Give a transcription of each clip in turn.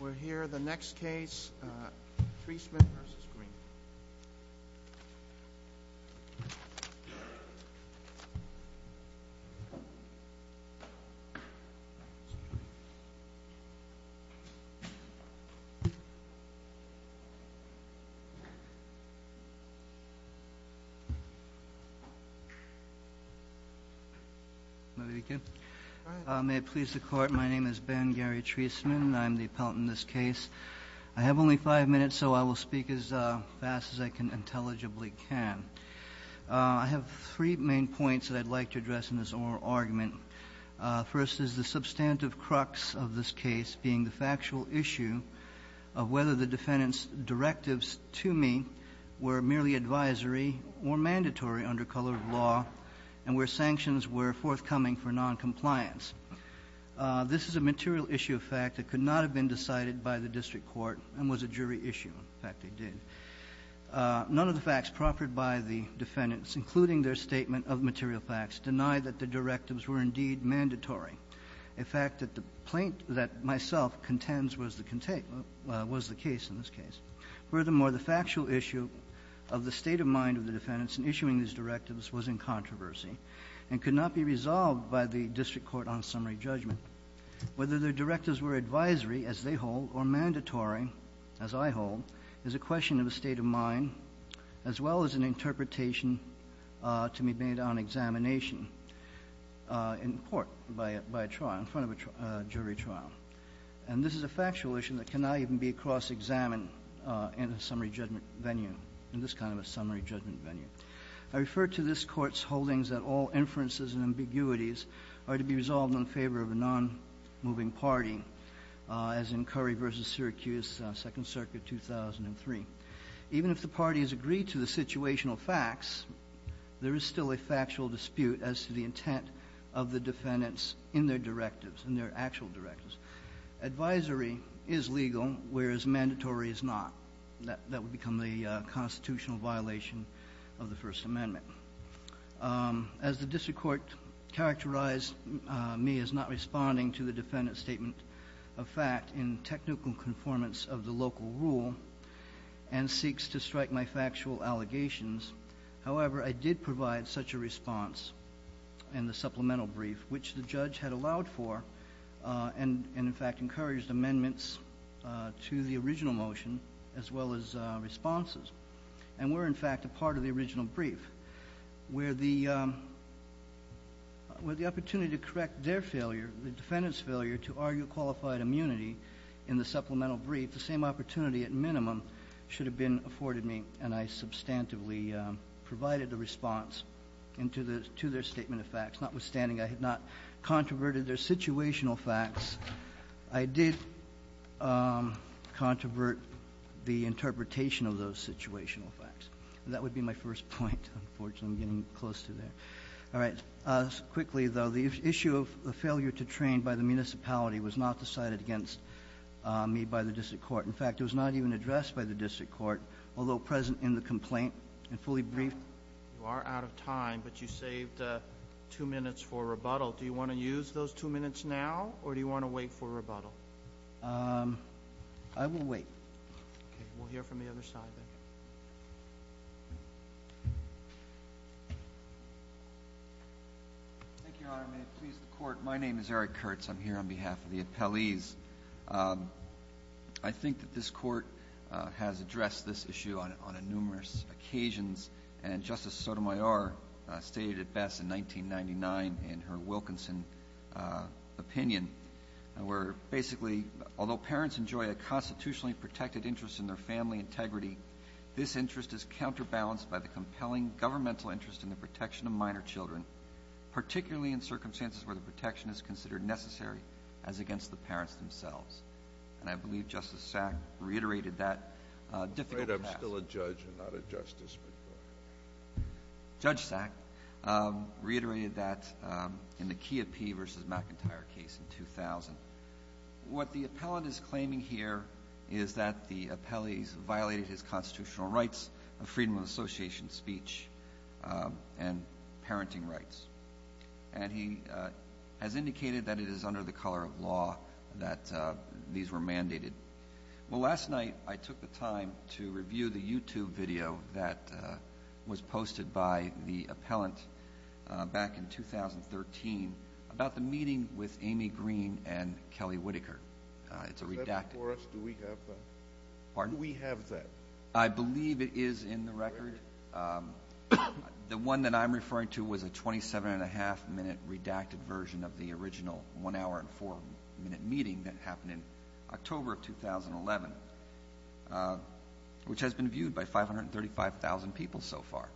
We're here, the next case, Treisman v. Green. May I begin? Thank you. May it please the Court, my name is Ben Gary Treisman. I'm the appellant in this case. I have only five minutes, so I will speak as fast as I intelligibly can. I have three main points that I'd like to address in this oral argument. First is the substantive crux of this case being the factual issue of whether the defendant's directives to me were merely advisory or mandatory under colored law and where sanctions were forthcoming for noncompliance. This is a material issue of fact that could not have been decided by the district court and was a jury issue. In fact, it did. None of the facts proffered by the defendants, including their statement of material facts, deny that the directives were indeed mandatory, a fact that the plaintiff that myself contends was the case in this case. Furthermore, the factual issue of the state of mind of the defendants in issuing these directives was in controversy and could not be resolved by the district court on summary judgment. Whether their directives were advisory, as they hold, or mandatory, as I hold, is a question of a state of mind, as well as an interpretation to be made on examination in court by a trial, in front of a jury trial. And this is a factual issue that cannot even be cross-examined in a summary judgment venue, in this kind of a summary judgment venue. I refer to this Court's holdings that all inferences and ambiguities are to be resolved in favor of a nonmoving party, as in Curry v. Syracuse, Second Circuit, 2003. Even if the parties agree to the situational facts, there is still a factual dispute as to the intent of the defendants in their directives, in their actual directives. Advisory is legal, whereas mandatory is not. That would become the constitutional violation of the First Amendment. As the district court characterized me as not responding to the defendant's statement of fact in technical conformance of the local rule and seeks to strike my factual allegations, however, I did provide such a response in the supplemental brief, which the judge had allowed for and, in fact, encouraged amendments to the original motion, as well as responses, and were, in fact, a part of the original brief, where the opportunity to correct their failure, the defendant's failure, to argue qualified immunity in the supplemental brief, the same opportunity at minimum should have been afforded me, and I substantively provided a response to their statement of facts. Notwithstanding I had not controverted their situational facts, I did controvert the interpretation of those situational facts. That would be my first point. Unfortunately, I'm getting close to there. All right. Quickly, though, the issue of the failure to train by the municipality was not decided against me by the district court. In fact, it was not even addressed by the district court, although present in the complaint and fully briefed. You are out of time, but you saved two minutes for rebuttal. Do you want to use those two minutes now, or do you want to wait for rebuttal? I will wait. Okay. We'll hear from the other side then. Thank you, Your Honor. May it please the Court. My name is Eric Kurtz. I'm here on behalf of the appellees. I think that this Court has addressed this issue on numerous occasions, and Justice Sotomayor stated it best in 1999 in her Wilkinson opinion, where basically, although parents enjoy a constitutionally protected interest in their family integrity, this interest is counterbalanced by the compelling governmental interest in the protection of minor children, particularly in circumstances where the protection is considered necessary as against the parents themselves. And I believe Justice Sack reiterated that difficult task. I'm afraid I'm still a judge and not a justice. Judge Sack reiterated that in the Kia Pee versus McIntyre case in 2000. What the appellant is claiming here is that the appellees violated his constitutional rights of freedom of association speech and parenting rights. And he has indicated that it is under the color of law that these were mandated. Well, last night I took the time to review the YouTube video that was posted by the appellant back in 2013 about the meeting with Amy Green and Kelly Whitaker. It's a redacted video. Except for us, do we have that? Pardon? Do we have that? I believe it is in the record. The one that I'm referring to was a 27.5-minute redacted version of the original one-hour and four-minute meeting that happened in October of 2011, which has been viewed by 535,000 people so far.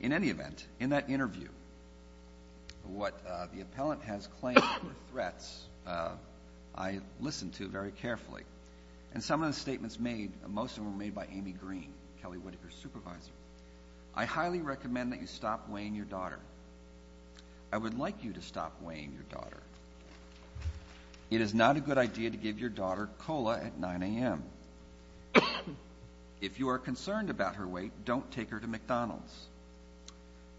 In any event, in that interview, what the appellant has claimed were threats, I listened to very carefully. And some of the statements made, most of them were made by Amy Green, Kelly Whitaker's supervisor. I highly recommend that you stop weighing your daughter. I would like you to stop weighing your daughter. It is not a good idea to give your daughter cola at 9 a.m. If you are concerned about her weight, don't take her to McDonald's.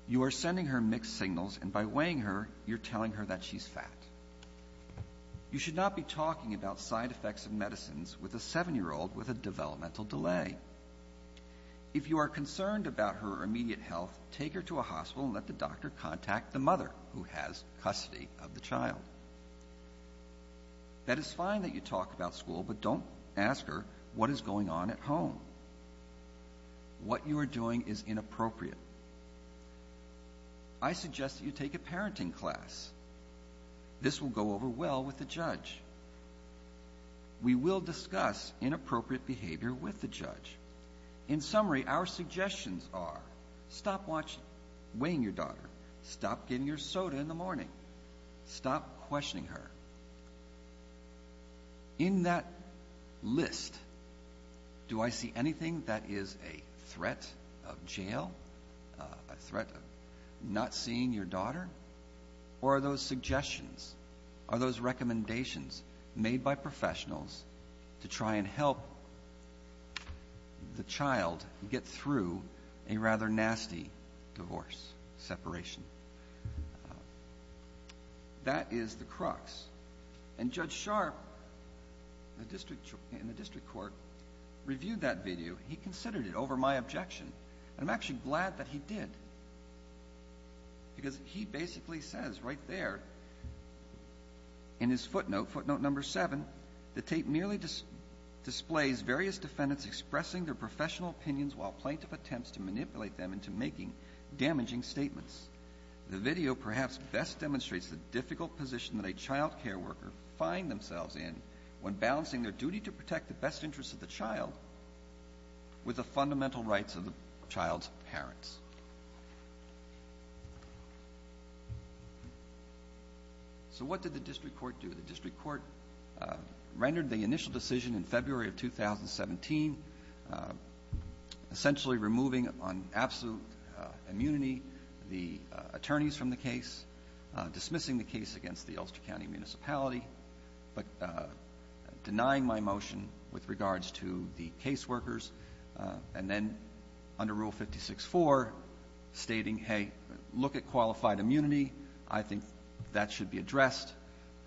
You are sending her mixed signals, and by weighing her, you're telling her that she's fat. You should not be talking about side effects of medicines with a 7-year-old with a developmental delay. If you are concerned about her immediate health, take her to a hospital and let the doctor contact the mother who has custody of the child. That is fine that you talk about school, but don't ask her what is going on at home. What you are doing is inappropriate. I suggest that you take a parenting class. This will go over well with the judge. We will discuss inappropriate behavior with the judge. In summary, our suggestions are stop weighing your daughter, stop giving her soda in the morning, stop questioning her. In that list, do I see anything that is a threat of jail, a threat of not seeing your daughter? Or are those suggestions, are those recommendations made by professionals to try and help the child get through a rather nasty divorce, separation? That is the crux. And Judge Sharpe in the district court reviewed that video. He considered it over my objection, and I'm actually glad that he did because he basically says right there in his footnote, footnote number seven, the tape merely displays various defendants expressing their professional opinions while plaintiff attempts to manipulate them into making damaging statements. The video perhaps best demonstrates the difficult position that a child care worker find themselves in when balancing their duty to protect the best interests of the child with the fundamental rights of the child's parents. So what did the district court do? The district court rendered the initial decision in February of 2017, essentially removing on absolute immunity the attorneys from the case, dismissing the case against the Ulster County Municipality, but denying my motion with regards to the case workers, and then under Rule 56-4 stating, hey, look at qualified immunity. I think that should be addressed.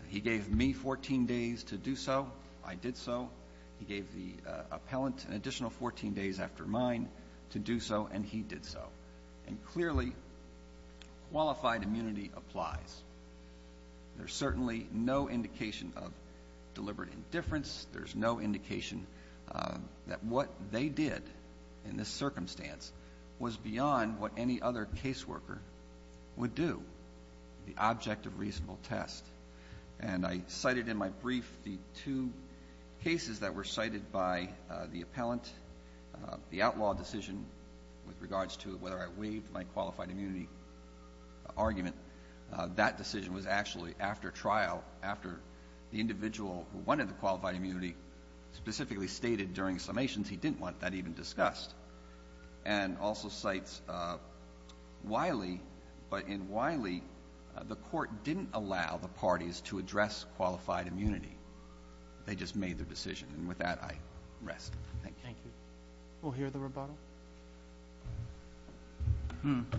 He gave me 14 days to do so. I did so. He gave the appellant an additional 14 days after mine to do so, and he did so. And clearly qualified immunity applies. There's certainly no indication of deliberate indifference. There's no indication that what they did in this circumstance was beyond what any other case worker would do, the object of reasonable test. And I cited in my brief the two cases that were cited by the appellant, the outlaw decision with regards to whether I waived my qualified immunity argument. That decision was actually after trial, after the individual who wanted the qualified immunity specifically stated during summations he didn't want that even discussed, and also cites Wiley. But in Wiley, the court didn't allow the parties to address qualified immunity. They just made their decision. And with that, I rest. Thank you. Thank you. We'll hear the rebuttal.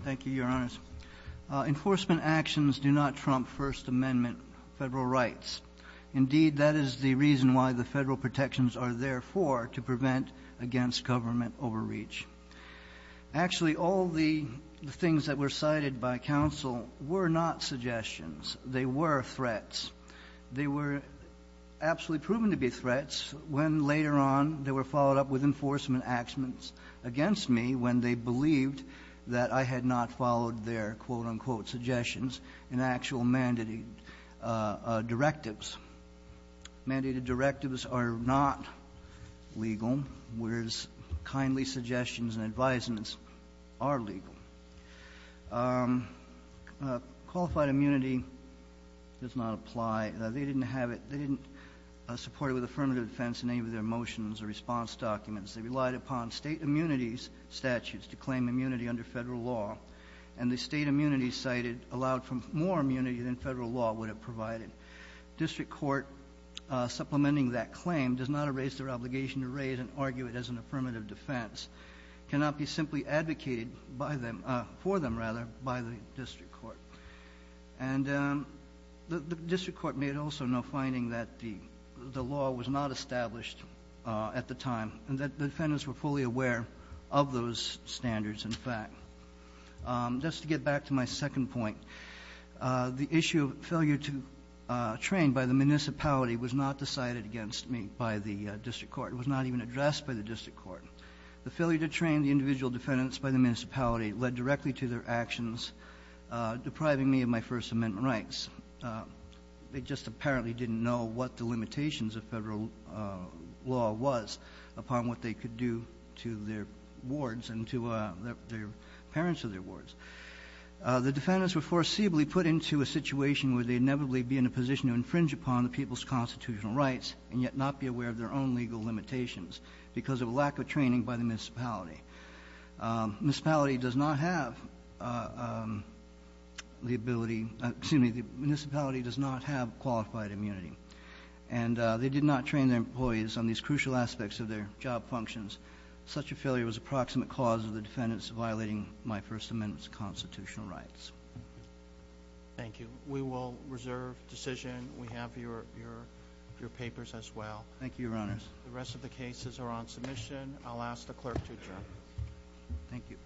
Thank you, Your Honors. Enforcement actions do not trump First Amendment Federal rights. Indeed, that is the reason why the Federal protections are there for, to prevent against government overreach. Actually, all the things that were cited by counsel were not suggestions. They were threats. They were absolutely proven to be threats when, later on, they were followed up with enforcement actions against me when they believed that I had not followed their, quote, unquote, suggestions in actual mandated directives. Mandated directives are not legal, whereas kindly suggestions and advisements are legal. Qualified immunity does not apply. They didn't have it. They didn't support it with affirmative defense in any of their motions or response documents. They relied upon state immunities statutes to claim immunity under Federal law. And the state immunities cited allowed for more immunity than Federal law would have provided. District court supplementing that claim does not erase their obligation to raise and argue it as an affirmative defense. It cannot be simply advocated for them by the district court. And the district court made also no finding that the law was not established at the time. And that the defendants were fully aware of those standards, in fact. Just to get back to my second point, the issue of failure to train by the municipality was not decided against me by the district court. It was not even addressed by the district court. The failure to train the individual defendants by the municipality led directly to their actions depriving me of my First Amendment rights. They just apparently didn't know what the limitations of Federal law was upon what they could do to their wards and to their parents of their wards. The defendants were foreseeably put into a situation where they'd inevitably be in a position to infringe upon the people's constitutional rights and yet not be aware of their own legal limitations because of a lack of training by the municipality. Municipality does not have the ability, excuse me, the municipality does not have qualified immunity. And they did not train their employees on these crucial aspects of their job functions. Such a failure was approximate cause of the defendants violating my First Amendment's constitutional rights. Thank you. We will reserve decision. We have your papers as well. Thank you, Your Honors. The rest of the cases are on submission. I'll ask the clerk to adjourn. Thank you. Thank you.